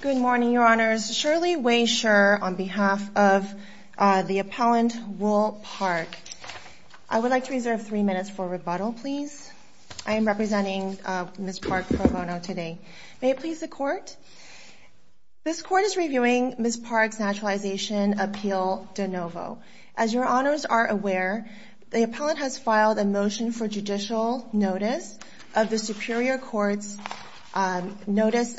Good morning, Your Honors. Shirley Wei Scher on behalf of the appellant Woul Park. I would like to reserve three minutes for rebuttal, please. I am representing Ms. Park Pro Bono today. May it please the Court? This Court is reviewing Ms. Park's naturalization appeal de novo. As Your Honors are aware, the appellant has filed a motion for judicial notice of the Superior Court's notice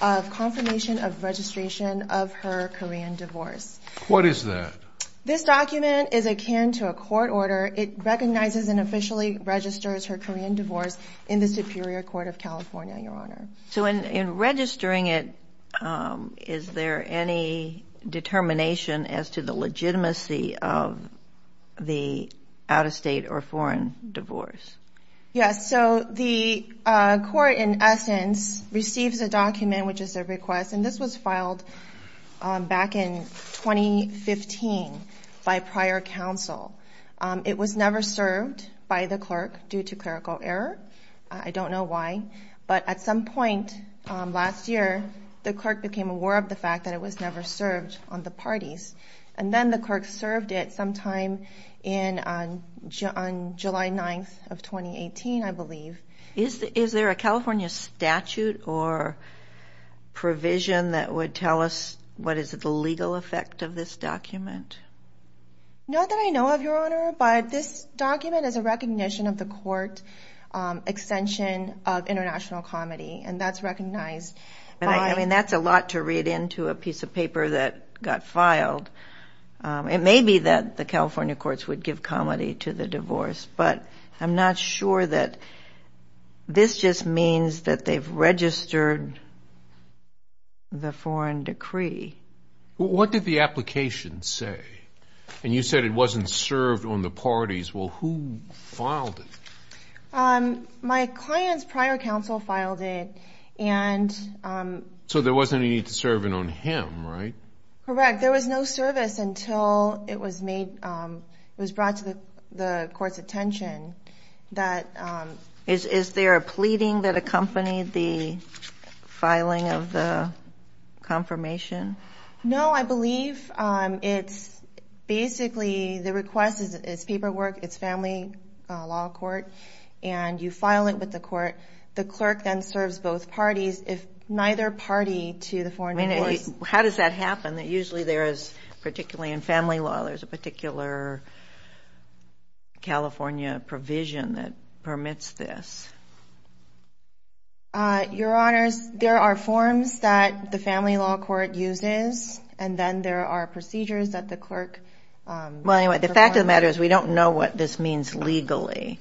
of confirmation of registration of her Korean divorce. What is that? This document is akin to a court order. It recognizes and officially registers her Korean divorce in the Superior Court of California, Your Honor. So in registering it, is there any determination as to the legitimacy of the out-of-state or foreign divorce? Yes. So the Court, in essence, receives a document, which is a request, and this was filed back in 2015 by prior counsel. It was never served by the clerk due to clerical error. I don't know why, but at some point last year, the clerk became aware of the fact that it was never served on the parties. And then the clerk served it sometime on July 9th of 2018, I believe. Is there a California statute or provision that would tell us what is the legal effect of this document? Not that I know of, Your Honor, but this document is a recognition of the court extension of international comedy, and that's recognized by... I mean, that's a lot to read into a piece of paper that got filed. It may be that the California courts would give comedy to the divorce, but I'm not sure that... This just means that they've registered the foreign decree. What did the application say? And you said it wasn't served on the parties. Well, who filed it? My client's prior counsel filed it, and... So there wasn't any need to serve it on him, right? Correct. There was no service until it was brought to the court's attention that... Is there a pleading that accompanied the filing of the confirmation? No, I believe it's basically... The request is paperwork. It's family law court, and you file it with the court. The clerk then serves both parties if neither party to the foreign divorce... I mean, how does that happen? That usually there is, particularly in family law, there's a particular California provision that permits this. Your Honors, there are forms that the family law court uses, and then there are procedures that the clerk... Well, anyway, the fact of the matter is we don't know what this means legally.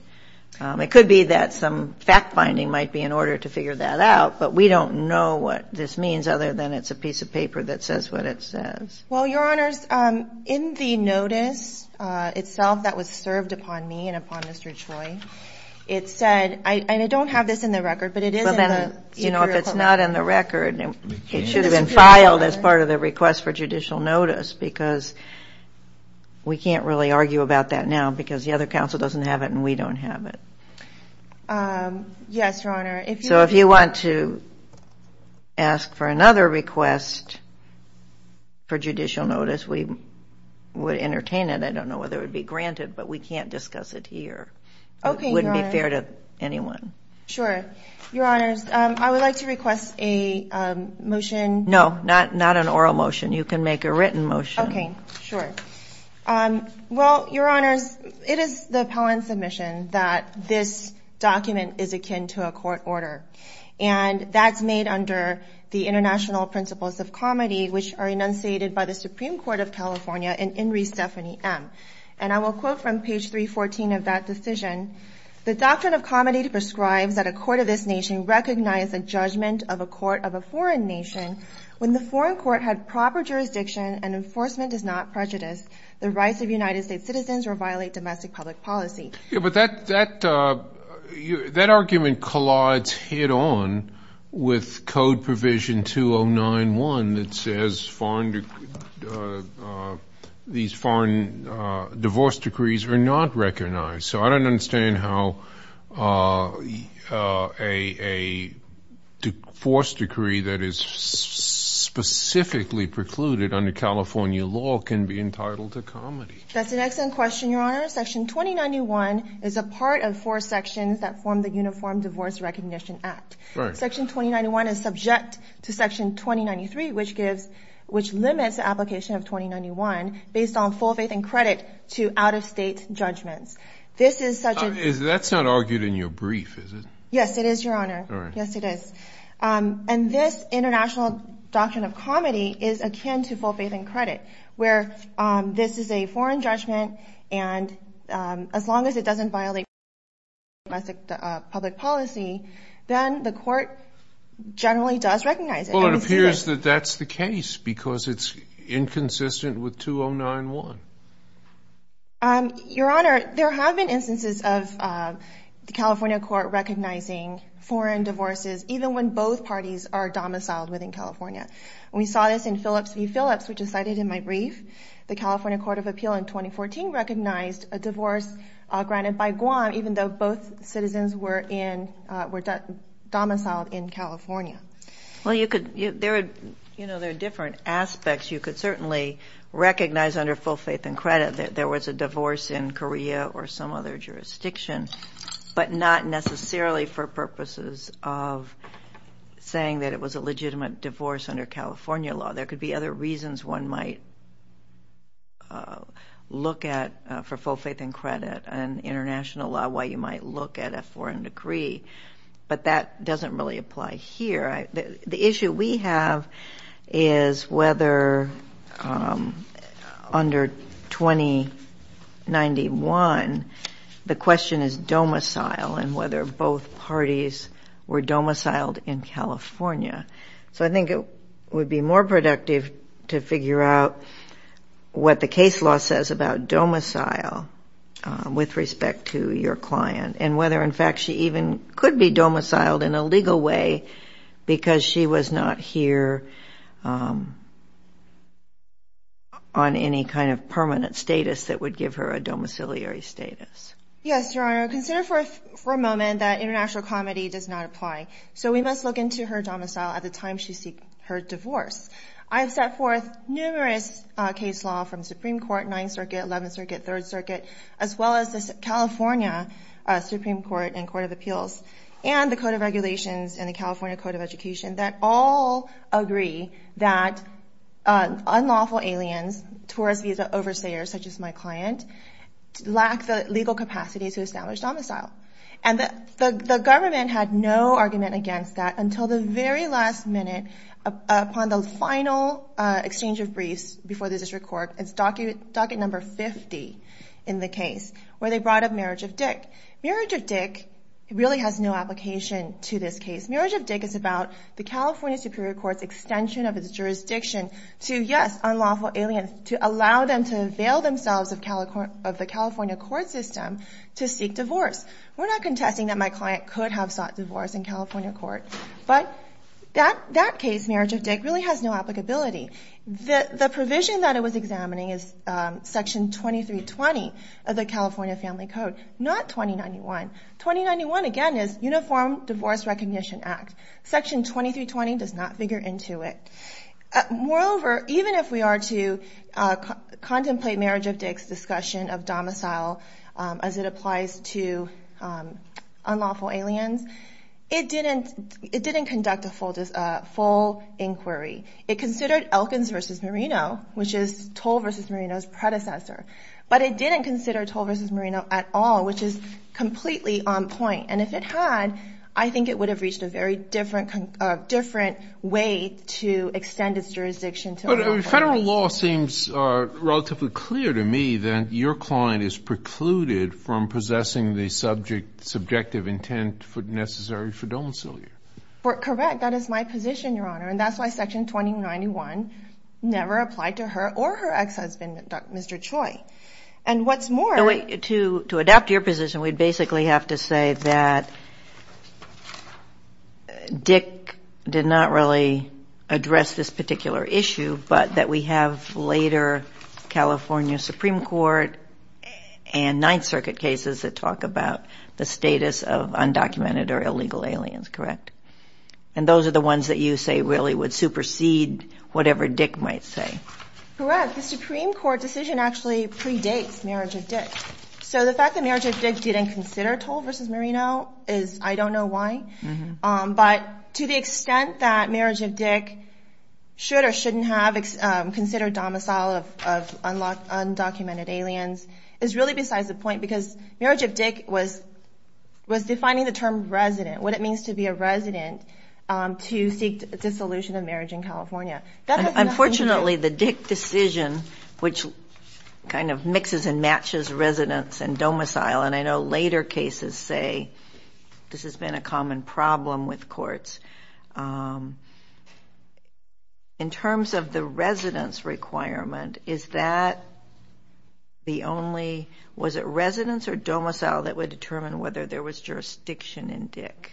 It could be that some fact-finding might be in order to figure that out, but we don't know what this means other than it's a piece of paper that says what it says. Well, Your Honors, in the notice itself that was served upon me and upon Mr. Choi, it said... And I don't have this in the record, but it is in the Superior Court... Well, then, if it's not in the record, it should have been filed as part of the request for judicial notice because we can't really argue about that now because the other counsel doesn't have it and we don't have it. Yes, Your Honor. So if you want to ask for another request for judicial notice, we would entertain it. I don't know whether it would be granted, but we can't discuss it here. It wouldn't be fair to anyone. Sure. Your Honors, I would like to request a motion... No, not an oral motion. You can make a written motion. Okay, sure. Well, Your Honors, it is the appellant's admission that this document is akin to a court order, and that's made under the International Principles of Comedy, which are enunciated by the Supreme Court of California in In Re. Stephanie M. And I will quote from page 314 of that decision, the Doctrine of Comedy prescribes that a court of this nation recognize the judgment of a court of a foreign nation when the foreign court had proper jurisdiction and enforcement does not prejudice the rights of United States citizens or violate domestic public policy. Yeah, but that argument collides head-on with Code Provision 2091 that says these foreign divorce decrees are not recognized. So I don't understand how a forced decree that is specifically precluded under California law can be entitled to comedy. That's an excellent question, Your Honor. Section 2091 is a part of four sections that form the Section 2093, which limits the application of 2091 based on full faith and credit to out-of-state judgments. This is such a... That's not argued in your brief, is it? Yes, it is, Your Honor. Yes, it is. And this International Doctrine of Comedy is akin to full faith and credit, where this is a foreign judgment, and as long as it doesn't violate proper jurisdiction or domestic public policy, then the court generally does recognize it. Well, it appears that that's the case, because it's inconsistent with 2091. Your Honor, there have been instances of the California Court recognizing foreign divorces, even when both parties are domiciled within California. We saw this in Phillips v. Phillips, which is cited in my brief. The California Court of Appeal in 2014 recognized a divorce granted by Guam, even though both citizens were domiciled in California. Well, there are different aspects. You could certainly recognize under full faith and credit that there was a divorce in Korea or some other jurisdiction, but not necessarily for purposes of saying that it was a legitimate divorce under California law. There could be other reasons one might look at, for full faith and credit and international law, why you might look at a foreign decree, but that doesn't really apply here. The issue we have is whether under 2091, the question is domicile and whether both parties were domiciled in California. So I think it would be more productive to figure out what the case law says about domicile with respect to your client and whether, in fact, she even could be domiciled in a legal way because she was not here on any kind of permanent status that would give her a domiciliary status. Yes, Your Honor, consider for a moment that international comedy does not apply. So we must look into her domicile at the time she seek her divorce. I've set forth numerous case law from Supreme Court, 9th Circuit, 11th Circuit, 3rd Circuit, as well as the California Supreme Court and Court of Appeals and the Code of Regulations and the California Code of Education that all agree that unlawful aliens, tourist visa overseers such as my client, lack the legal capacity to establish domicile. And the government had no argument against that until the very last minute upon the final exchange of briefs before the District Court. It's docket number 50 in the case where they brought up Marriage of Dick. Marriage of Dick really has no application to this case. Marriage of Dick is about the California Superior Court's extension of its jurisdiction to, yes, unlawful aliens to allow them to avail themselves of the California court system to seek divorce. We're not contesting that my client could have sought divorce in California court, but that case, Marriage of Dick, really has no applicability. The provision that it was examining is Section 2320 of the California Family Code, not 2091. 2091 again is Uniform Divorce Recognition Act. Section 2320 does not figure into it. Moreover, even if we are to contemplate Marriage of Dick's discussion of domicile as it applies to unlawful aliens, it didn't conduct a full inquiry. It considered Elkins v. Merino, which is Toll v. Merino's predecessor, but it didn't consider Toll v. Merino at all, which is completely on point. And if it had, I think it would have reached a very different way to extend its jurisdiction to unlawful aliens. But federal law seems relatively clear to me that your client is precluded from possessing the subject subjective intent necessary for domicile here. Correct. That is my position, Your Honor, and that's why Section 2091 never applied to her or her ex-husband, Mr. Choi. And what's more... To adapt to your position, we'd basically have to say that Dick did not really address this particular issue, but that we have later California Supreme Court and Ninth Circuit cases that talk about the status of undocumented or illegal aliens, correct? And those are the ones that you say really would supersede whatever Dick might say. Correct. The Supreme Court decision actually predates marriage of Dick. So the fact that marriage of Dick didn't consider Toll v. Merino is, I don't know why. But to the extent that marriage of Dick should or shouldn't have considered domicile of undocumented aliens is really besides the point because marriage of Dick was defining the term resident, what it means to be a resident to seek dissolution of marriage in California. Unfortunately, the Dick decision, which kind of mixes and matches residence and domicile, and I know later cases say this has been a common problem with courts. In terms of the residence requirement, is that the only... Was it residence or domicile that would determine whether there was jurisdiction in Dick?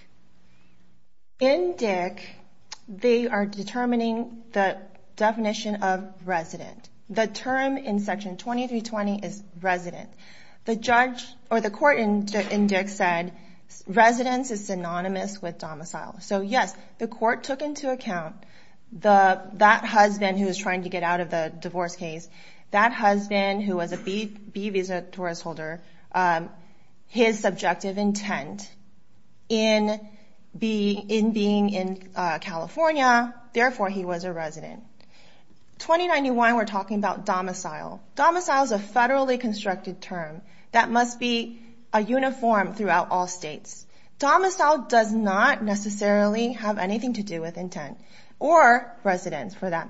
In Dick, they are determining the definition of resident. The term in Section 2320 is resident. The judge or the court in Dick said residence is synonymous with domicile. So yes, the court took into account that husband who was trying to get out of the divorce case, that husband who was a B visa tourist holder, his subjective intent in being in California, therefore, he was a resident. 2091, we're talking about domicile. Domicile is a federally constructed term that must be a uniform throughout all states. Domicile does not necessarily have anything to do with intent or residence for that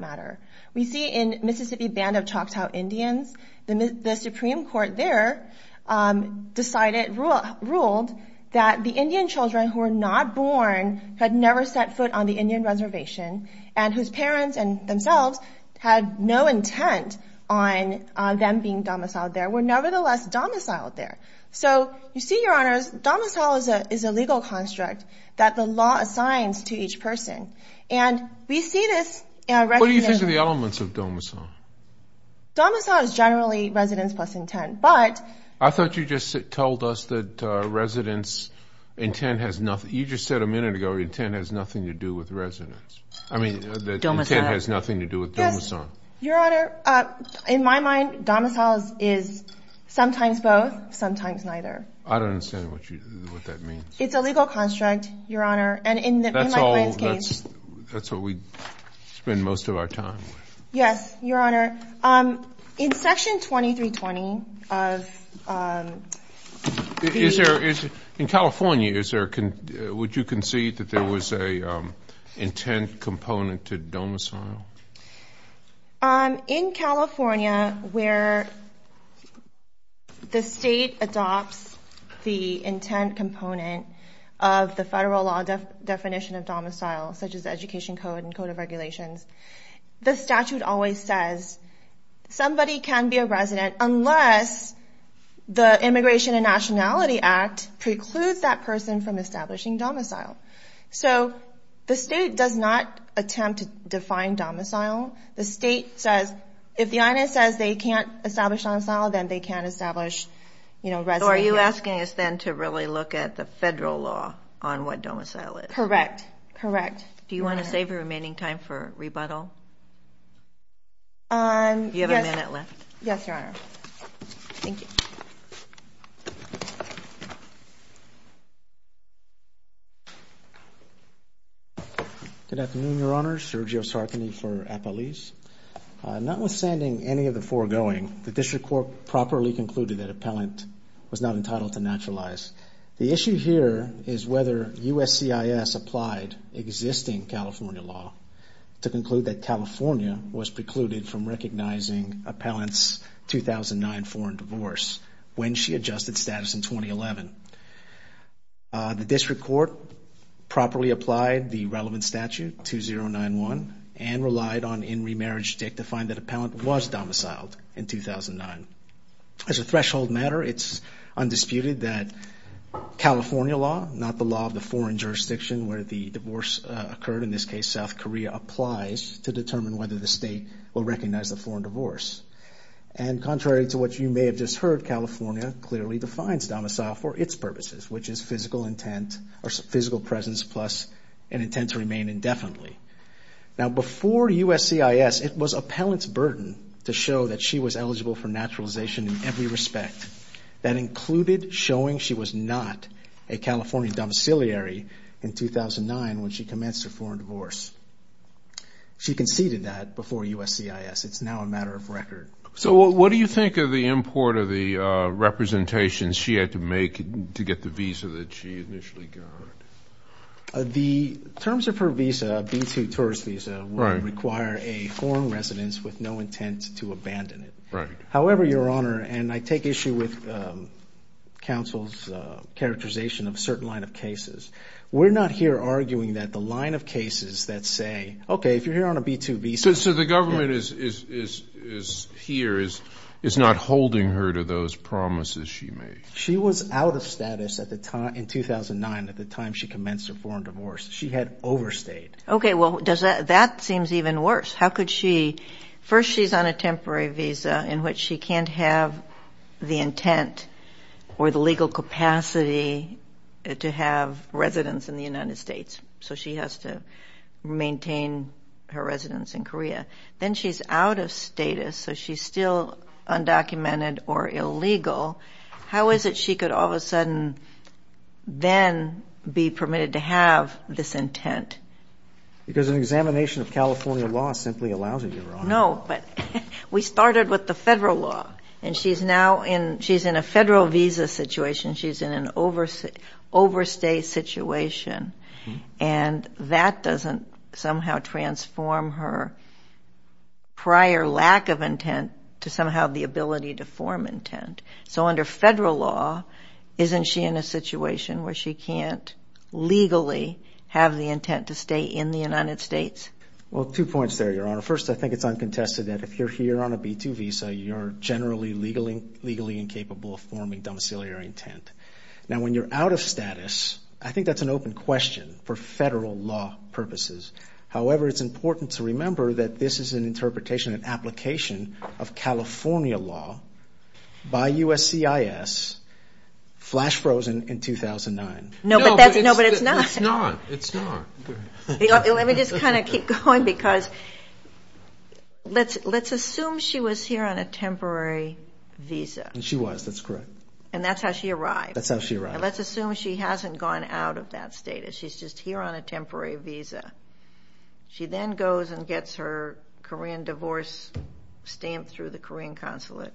ruled that the Indian children who are not born had never set foot on the Indian reservation and whose parents and themselves had no intent on them being domiciled there were nevertheless domiciled there. So you see, Your Honors, domicile is a legal construct that the law assigns to each person. And we see this... What do you think of the elements of domicile? Domicile is generally residence plus intent. I thought you just told us that residence intent has nothing. You just said a minute ago, intent has nothing to do with residence. I mean, the intent has nothing to do with domicile. Your Honor, in my mind, domicile is sometimes both, sometimes neither. I don't understand what that means. It's a legal construct, Your Honor. That's what we spend most of our time with. Yes, Your Honor. In Section 2320 of the... In California, would you concede that there was an intent component to domicile? In California, where the state adopts the intent component of the federal law definition of domicile, such as the Education Code and Code of Regulations, the statute always says, somebody can be a resident unless the Immigration and Nationality Act precludes that person from establishing domicile. So the state does not attempt to define domicile. The state says, if the INS says they can't establish domicile, then they can't establish residency. So are you asking us then to really look at the federal law on what domicile is? Correct. Correct. Do you want to save your remaining time for rebuttal? You have a minute left. Yes, Your Honor. Thank you. Good afternoon, Your Honor. Sergio Sartani for Appalese. Notwithstanding any of the foregoing, the District Court properly concluded that appellant was not entitled to naturalize. The issue here is whether USCIS applied existing California law to conclude that California was precluded from recognizing appellant's 2009 foreign divorce when she adjusted status in 2011. The District Court properly applied the relevant statute, 2091, and relied on In Remarriage Dict to find that appellant was domiciled in 2009. As a threshold matter, it's undisputed that California law, not the law of the foreign jurisdiction where the divorce occurred, in this case South Korea, applies to determine whether the state will recognize the foreign divorce. And contrary to what you may have just heard, California clearly defines domicile for its purposes, which is physical intent or physical presence plus an intent to remain indefinitely. Now, before USCIS, it was appellant's burden to show that she was eligible for naturalization in every respect. That included showing she was not a California domiciliary in 2009 when she commenced her foreign divorce. She conceded that before USCIS. It's now a matter of record. So what do you think of the import of the representations she had to make to get the visa that she initially got? The terms of her visa, B-2 tourist visa, would require a foreign residence with no intent to abandon it. Right. However, Your Honor, and I take issue with counsel's characterization of a certain line of cases, we're not here arguing that the line of cases that say, okay, if you're here on a B-2 visa. So the government is here, is not holding her to those promises she made. She was out of status in 2009 at the time she commenced her foreign divorce. She had overstayed. Okay, well, that seems even worse. How could she – first, she's on a temporary visa in which she can't have the intent or the legal capacity to have residence in the United States. So she has to maintain her residence in Korea. Then she's out of status, so she's still undocumented or illegal. How is it she could all of a sudden then be permitted to have this intent? Because an examination of California law simply allows it, Your Honor. No, but we started with the federal law, and she's now in – she's in a federal visa situation. She's in an overstay situation, and that doesn't somehow transform her prior lack of intent to somehow the ability to form intent. So under federal law, isn't she in a situation where she can't legally have the intent to stay in the United States? Well, two points there, Your Honor. First, I think it's uncontested that if you're here on a B-2 visa, you're generally legally incapable of forming domiciliary intent. Now, when you're out of status, I think that's an open question for federal law purposes. However, it's important to remember that this is an interpretation, an application of California law by USCIS, flash-frozen in 2009. No, but that's – no, but it's not. It's not. It's not. Let me just kind of keep going because let's assume she was here on a temporary visa. She was. That's correct. And that's how she arrived. That's how she arrived. Let's assume she hasn't gone out of that status. She's just here on a temporary visa. She then goes and gets her Korean divorce stamped through the Korean consulate.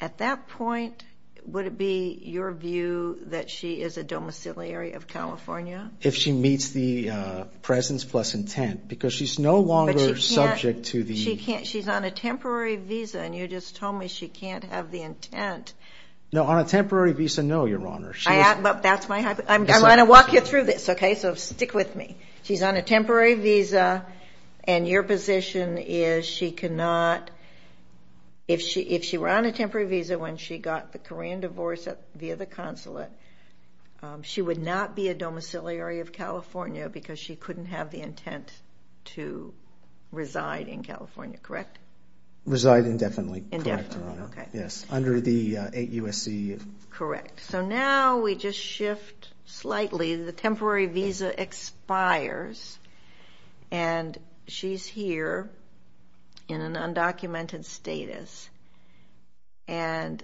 At that point, would it be your view that she is a domiciliary of California? If she meets the presence plus intent because she's no longer subject to the – But she can't – she can't – she's on a temporary visa, and you just told me she can't have the intent. No, on a temporary visa, no, Your Honor. But that's my – I'm going to walk you through this, okay? So stick with me. She's on a temporary visa, and your position is she cannot – if she were on a temporary visa when she got the Korean divorce via the consulate, she would not be a domiciliary of California because she couldn't have the intent to reside in California, correct? Reside indefinitely, correct, Your Honor. Indefinitely, okay. Yes, under the 8 U.S.C.U. Correct. So now we just shift slightly. The temporary visa expires, and she's here in an undocumented status. And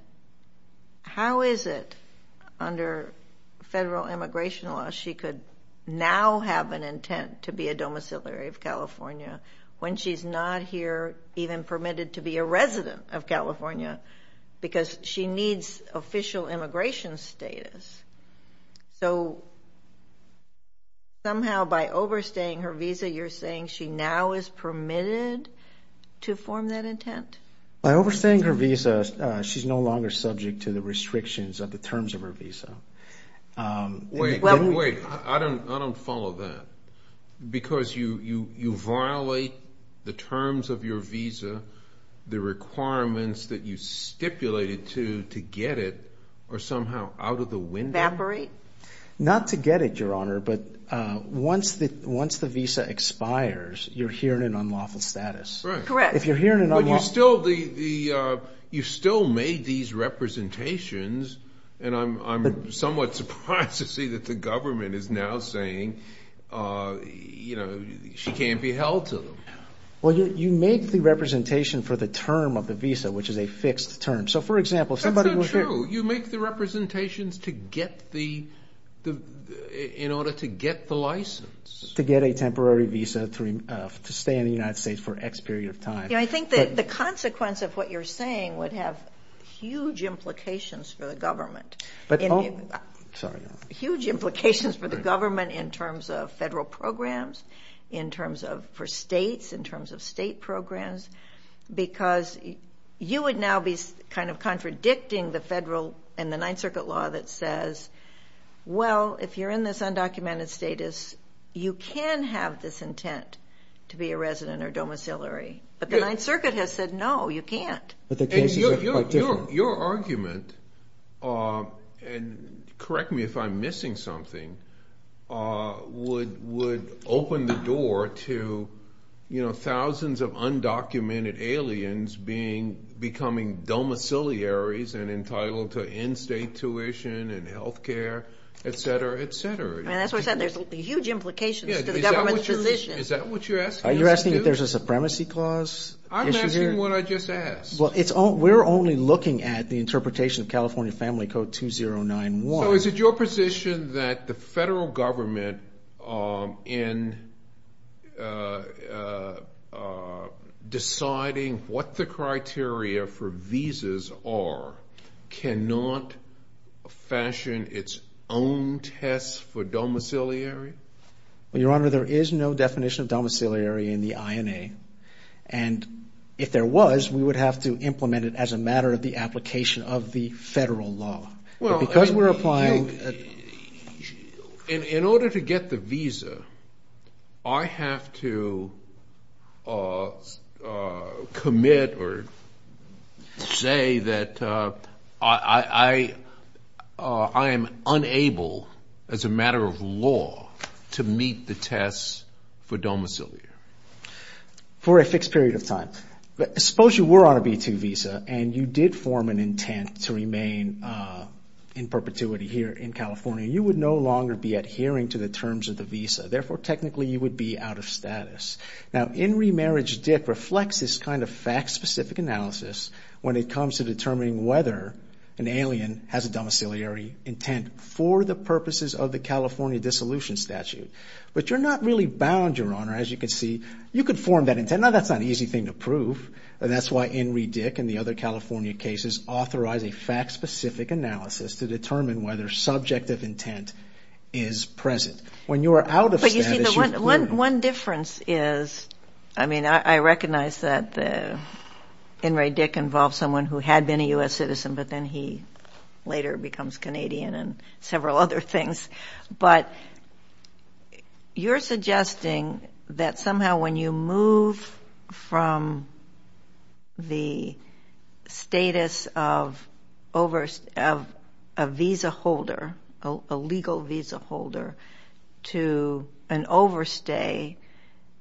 how is it under federal immigration law she could now have an intent to be a domiciliary of California when she's not here even permitted to be a resident of California because she needs official immigration status? So somehow by overstaying her visa, you're saying she now is permitted to form that intent? By overstaying her visa, she's no longer subject to the restrictions of the terms of her visa. Wait, I don't follow that because you violate the terms of your visa, the requirements that you stipulated to get it are somehow out of the window? Evaporate? Not to get it, Your Honor, but once the visa expires, you're here in an unlawful status. Correct. But you still made these representations, and I'm somewhat surprised to see that the government is now saying, you know, she can't be held to them. Well, you make the representation for the term of the visa, which is a fixed term. So, for example, if somebody was here – That's not true. You make the representations in order to get the license. To get a temporary visa to stay in the United States for X period of time. Yeah, I think that the consequence of what you're saying would have huge implications for the government. Oh, sorry. Huge implications for the government in terms of federal programs, in terms of for states, in terms of state programs, because you would now be kind of contradicting the federal and the Ninth Circuit law that says, well, if you're in this undocumented status, you can have this intent to be a resident or domiciliary. But the Ninth Circuit has said, no, you can't. But the cases are quite different. And your argument, and correct me if I'm missing something, would open the door to, you know, thousands of undocumented aliens becoming domiciliaries and entitled to in-state tuition and health care, et cetera, et cetera. I mean, that's what I said. There's huge implications to the government's position. Is that what you're asking us to do? Are you asking if there's a supremacy clause issue here? I'm asking what I just asked. Well, we're only looking at the interpretation of California Family Code 2091. So is it your position that the federal government, in deciding what the criteria for visas are, cannot fashion its own tests for domiciliary? Well, Your Honor, there is no definition of domiciliary in the INA. And if there was, we would have to implement it as a matter of the application of the federal law. Well, in order to get the visa, I have to commit or say that I am unable, as a matter of law, to meet the tests for domiciliary. For a fixed period of time. Now, suppose you were on a B-2 visa and you did form an intent to remain in perpetuity here in California. You would no longer be adhering to the terms of the visa. Therefore, technically, you would be out of status. Now, in remarriage DIC reflects this kind of fact-specific analysis when it comes to determining whether an alien has a domiciliary intent for the purposes of the California Dissolution Statute. But you're not really bound, Your Honor, as you can see. You could form that intent. Now, that's not an easy thing to prove. And that's why In re DIC and the other California cases authorize a fact-specific analysis to determine whether subjective intent is present. When you are out of status, you've clearly... But you see, the one difference is, I mean, I recognize that In re DIC involves someone who had been a U.S. citizen, but then he later becomes Canadian and several other things. But you're suggesting that somehow when you move from the status of a visa holder, a legal visa holder, to an overstay,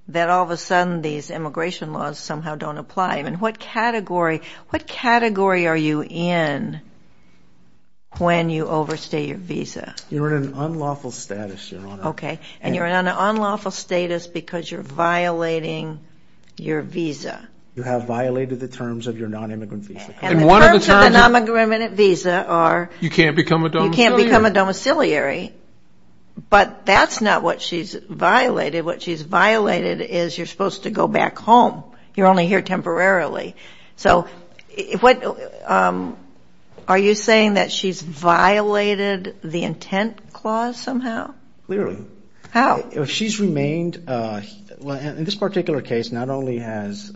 that all of a sudden these immigration laws somehow don't apply. And what category are you in when you overstay your visa? You're in an unlawful status, Your Honor. Okay. And you're in an unlawful status because you're violating your visa. You have violated the terms of your non-immigrant visa. And the terms of the non-immigrant visa are... You can't become a domiciliary. You can't become a domiciliary. But that's not what she's violated. What she's violated is you're supposed to go back home. You're only here temporarily. So are you saying that she's violated the intent clause somehow? Clearly. How? She's remained... In this particular case, not only has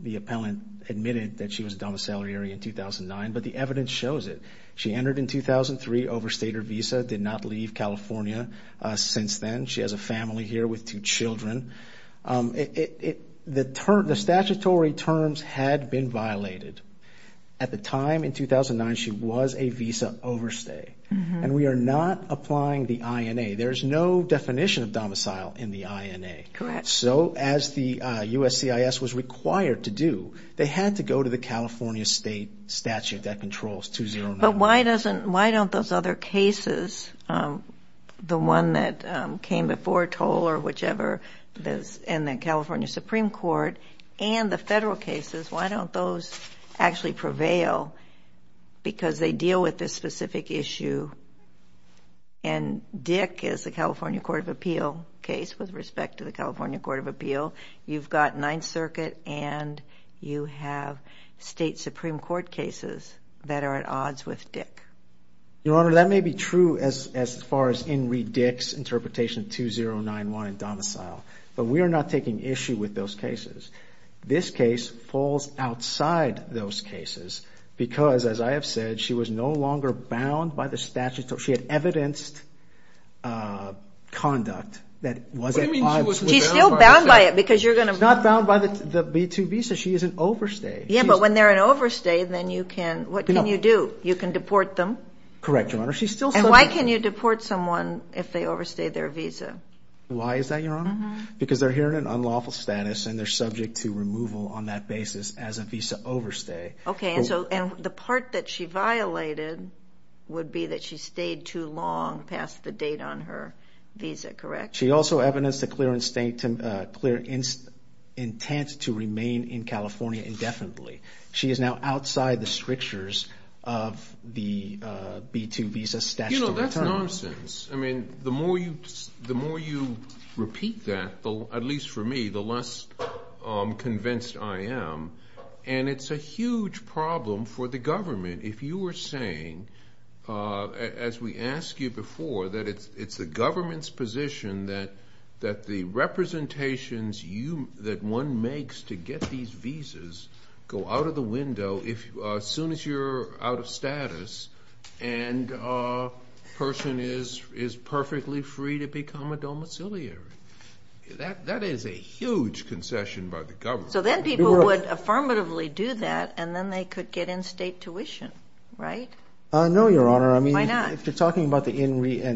the appellant admitted that she was a domiciliary in 2009, but the evidence shows it. She entered in 2003, overstayed her visa, did not leave California since then. She has a family here with two children. The statutory terms had been violated. At the time, in 2009, she was a visa overstay. And we are not applying the INA. There's no definition of domicile in the INA. Correct. So as the USCIS was required to do, they had to go to the California state statute that controls 2009. But why don't those other cases, the one that came before Toll or whichever, and the California Supreme Court, and the federal cases, why don't those actually prevail because they deal with this specific issue? And Dick is the California Court of Appeal case with respect to the California Court of Appeal. You've got Ninth Circuit and you have state Supreme Court cases that are at odds with Dick. Your Honor, that may be true as far as in reDick's interpretation of 2091 in domicile, but we are not taking issue with those cases. This case falls outside those cases because, as I have said, she was no longer bound by the statute. She had evidenced conduct that wasn't... She's still bound by it because you're going to... She's not bound by the B-2 visa. She is an overstay. Yeah, but when they're an overstay, then you can, what can you do? You can deport them. Correct, Your Honor. And why can you deport someone if they overstay their visa? Why is that, Your Honor? Because they're here in an unlawful status and they're subject to removal on that basis as a visa overstay. Okay, and the part that she violated would be that she stayed too long past the date on her visa, correct? She also evidenced a clear intent to remain in California indefinitely. She is now outside the strictures of the B-2 visa statute. You know, that's nonsense. I mean, the more you repeat that, at least for me, the less convinced I am. And it's a huge problem for the government if you are saying, as we asked you before, that it's the government's position that the representations that one makes to get these visas go out of the window as soon as you're out of status and a person is perfectly free to become a domiciliary. That is a huge concession by the government. So then people would affirmatively do that and then they could get in-state tuition, right? No, Your Honor. Why not? If you're talking about the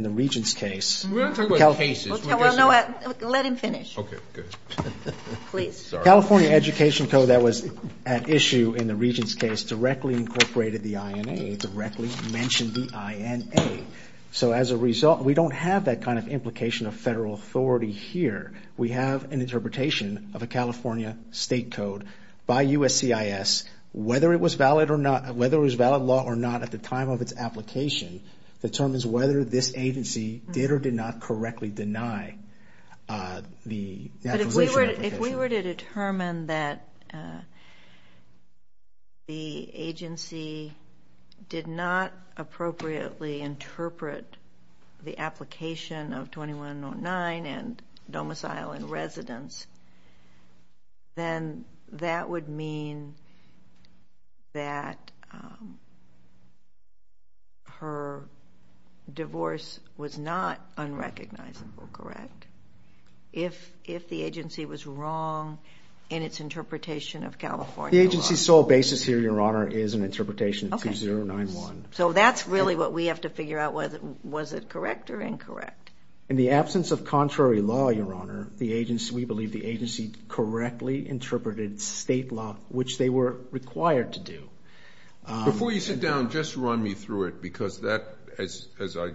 Regents' case. We're not talking about cases. Well, no, let him finish. Okay, good. Please. The California Education Code that was at issue in the Regents' case directly incorporated the INA, directly mentioned the INA. So as a result, we don't have that kind of implication of federal authority here. We have an interpretation of a California state code by USCIS. Whether it was valid law or not at the time of its application determines whether this agency did or did not correctly deny the application application. But if we were to determine that the agency did not appropriately interpret the application of 2109 and domicile and residence, then that would mean that her divorce was not unrecognizable, correct? If the agency was wrong in its interpretation of California law. The agency's sole basis here, Your Honor, is an interpretation of 2091. So that's really what we have to figure out, was it correct or incorrect? In the absence of contrary law, Your Honor, we believe the agency correctly interpreted state law, which they were required to do. Before you sit down, just run me through it, because that, as I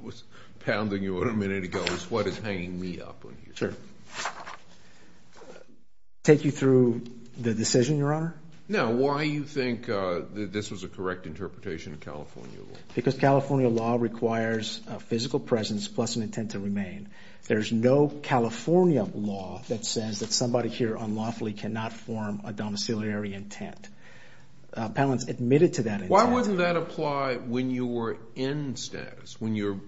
was pounding you on a minute ago, is what is hanging me up on here. Sure. Take you through the decision, Your Honor? No, why you think this was a correct interpretation of California law. Because California law requires a physical presence plus an intent to remain. There's no California law that says that somebody here unlawfully cannot form a domiciliary intent. Appellants admitted to that intent. Why wouldn't that apply when you were in status, when your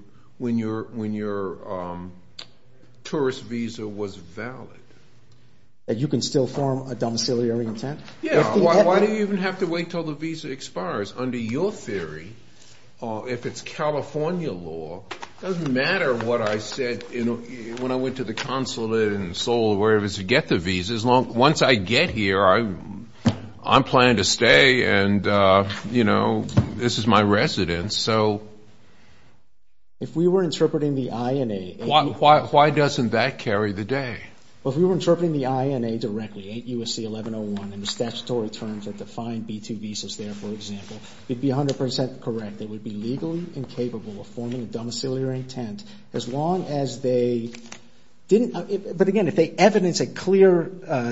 tourist visa was valid? That you can still form a domiciliary intent? Yeah. Why do you even have to wait until the visa expires? Under your theory, if it's California law, it doesn't matter what I said when I went to the consulate in Seoul or wherever to get the visas. Once I get here, I'm planning to stay, and, you know, this is my residence. So if we were interpreting the INA. Why doesn't that carry the day? Well, if we were interpreting the INA directly, 8 U.S.C. 1101, and the statutory terms that define B-2 visas there, for example, it would be 100% correct. They would be legally incapable of forming a domiciliary intent as long as they didn't ---- but, again, if they evidence a clear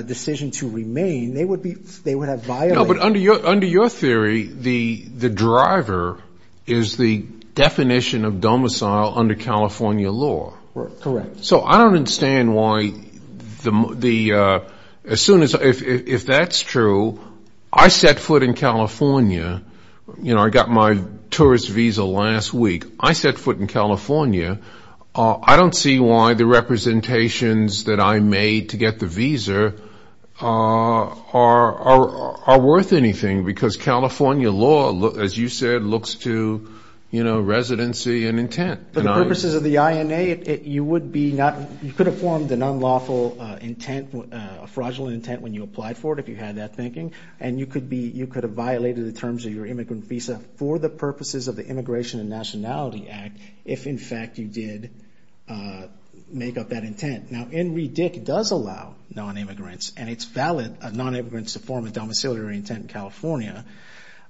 decision to remain, they would have violated ---- No, but under your theory, the driver is the definition of domicile under California law. Correct. So I don't understand why the ---- as soon as ---- if that's true, I set foot in California. You know, I got my tourist visa last week. I set foot in California. I don't see why the representations that I made to get the visa are worth anything because California law, as you said, looks to, you know, residency and intent. For the purposes of the INA, you would be not ---- you could have formed an unlawful intent, a fraudulent intent when you applied for it, if you had that thinking, and you could be ---- you could have violated the terms of your immigrant visa for the purposes of the Immigration and Nationality Act if, in fact, you did make up that intent. Now, NREDIC does allow nonimmigrants, and it's valid, nonimmigrants to form a domiciliary intent in California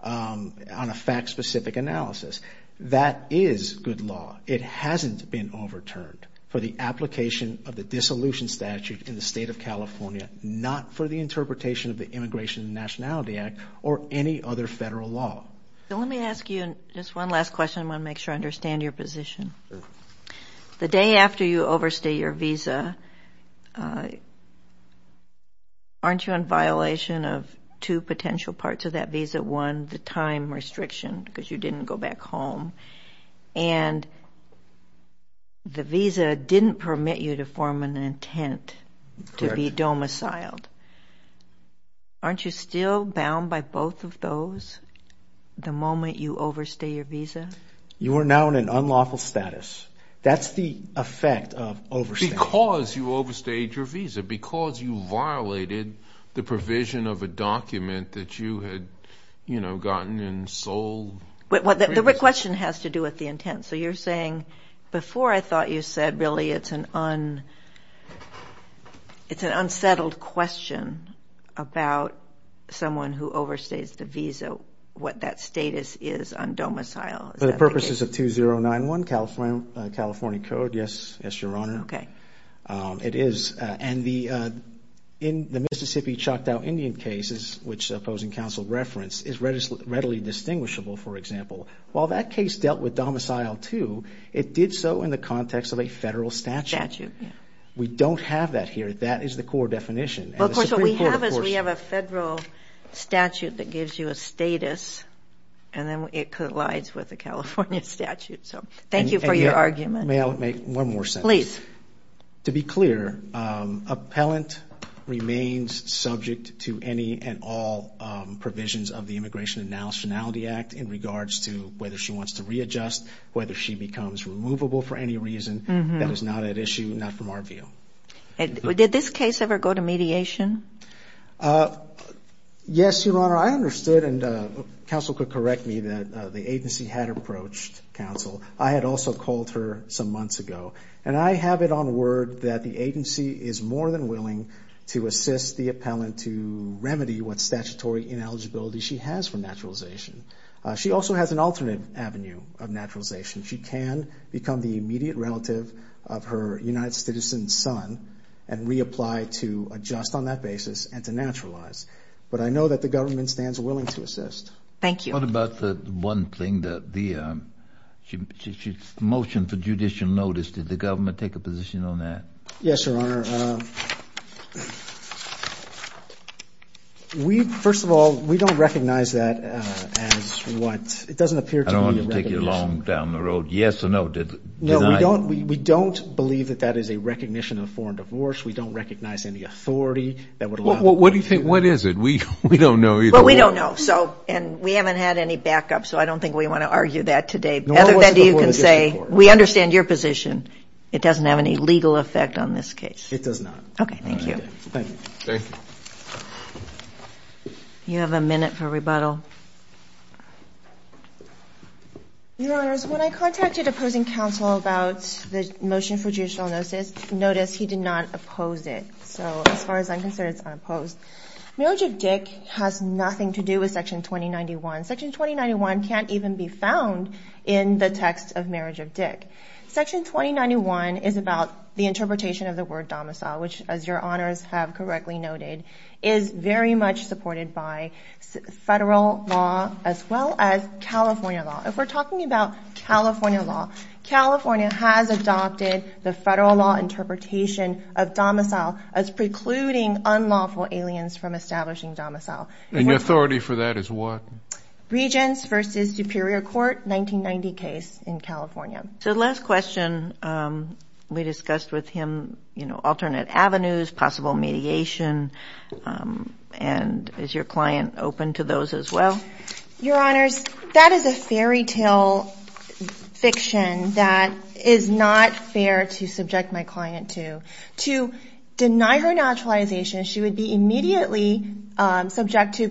on a fact-specific analysis. That is good law. It hasn't been overturned for the application of the dissolution statute in the State of California, not for the interpretation of the Immigration and Nationality Act or any other federal law. Let me ask you just one last question. I want to make sure I understand your position. Sure. The day after you overstay your visa, aren't you in violation of two potential parts of that visa? One, the time restriction because you didn't go back home, and the visa didn't permit you to form an intent to be domiciled. Aren't you still bound by both of those the moment you overstay your visa? You are now in an unlawful status. That's the effect of overstaying. Because you overstayed your visa, because you violated the provision of a document that you had, you know, gotten and sold. The question has to do with the intent. So you're saying before I thought you said really it's an unsettled question about someone who overstays the visa, what that status is on domicile. For the purposes of 2091 California Code, yes, Your Honor. Okay. It is. And the Mississippi Choctaw Indian case, which opposing counsel referenced, is readily distinguishable, for example. While that case dealt with domicile too, it did so in the context of a federal statute. Statute, yeah. We don't have that here. That is the core definition. Of course, what we have is we have a federal statute that gives you a status, and then it collides with the California statute. So thank you for your argument. May I make one more sentence? Please. To be clear, appellant remains subject to any and all provisions of the Immigration and Nationality Act in regards to whether she wants to readjust, whether she becomes removable for any reason. That is not at issue, not from our view. Did this case ever go to mediation? Yes, Your Honor. I understood, and counsel could correct me, that the agency had approached counsel. I had also called her some months ago. And I have it on word that the agency is more than willing to assist the appellant to remedy what statutory ineligibility she has for naturalization. She also has an alternate avenue of naturalization. She can become the immediate relative of her United Citizens son and reapply to adjust on that basis and to naturalize. But I know that the government stands willing to assist. Thank you. What about the one thing, the motion for judicial notice? Did the government take a position on that? Yes, Your Honor. First of all, we don't recognize that as what? It doesn't appear to be a recognition. I don't want to take you long down the road. Yes or no? No, we don't believe that that is a recognition of foreign divorce. We don't recognize any authority that would allow the court to do that. What do you think? What is it? We don't know either. But we don't know. And we haven't had any backup, so I don't think we want to argue that today. Other than you can say we understand your position. It doesn't have any legal effect on this case. It does not. Okay. Thank you. Thank you. You have a minute for rebuttal. Your Honors, when I contacted opposing counsel about the motion for judicial notice, notice he did not oppose it. So as far as I'm concerned, it's unopposed. Marriage of Dick has nothing to do with Section 2091. Section 2091 can't even be found in the text of Marriage of Dick. Section 2091 is about the interpretation of the word domicile, which, as your Honors have correctly noted, is very much supported by federal law as well as California law. If we're talking about California law, California has adopted the federal law interpretation of domicile as precluding unlawful aliens from establishing domicile. And your authority for that is what? Regents v. Superior Court, 1990 case in California. So the last question we discussed with him, you know, alternate avenues, possible mediation, and is your client open to those as well? Your Honors, that is a fairytale fiction that is not fair to subject my client to. To deny her naturalization, she would be immediately subject to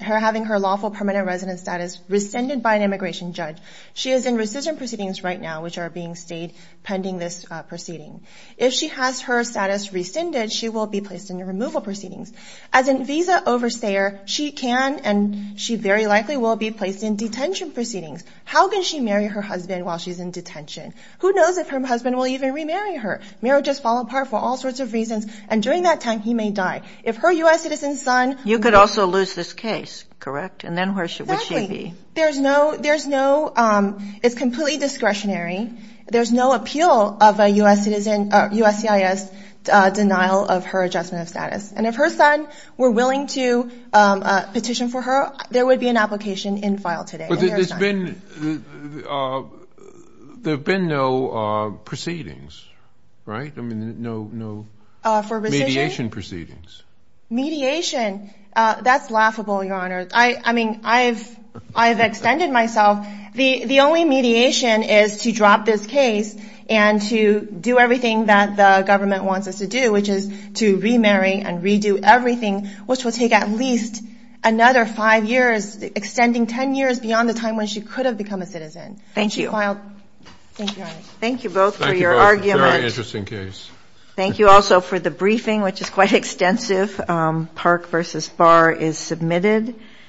having her lawful permanent resident status rescinded by an immigration judge. She is in rescission proceedings right now, which are being stayed pending this proceeding. If she has her status rescinded, she will be placed in removal proceedings. As a visa overstayer, she can and she very likely will be placed in detention proceedings. How can she marry her husband while she's in detention? Who knows if her husband will even remarry her? Marriages fall apart for all sorts of reasons. And during that time, he may die. If her U.S. citizen son – You could also lose this case, correct? And then where would she be? Exactly. There's no – there's no – it's completely discretionary. There's no appeal of a U.S. citizen – USCIS denial of her adjustment of status. And if her son were willing to petition for her, there would be an application in file today. But there's been – there have been no proceedings, right? I mean, no mediation proceedings. Mediation. That's laughable, Your Honor. I mean, I've extended myself. The only mediation is to drop this case and to do everything that the government wants us to do, which is to remarry and redo everything, which will take at least another five years, extending 10 years beyond the time when she could have become a citizen. Thank you. Thank you, Your Honor. Thank you both for your argument. Thank you both. It's a very interesting case. Thank you also for the briefing, which is quite extensive. Park v. Barr is submitted.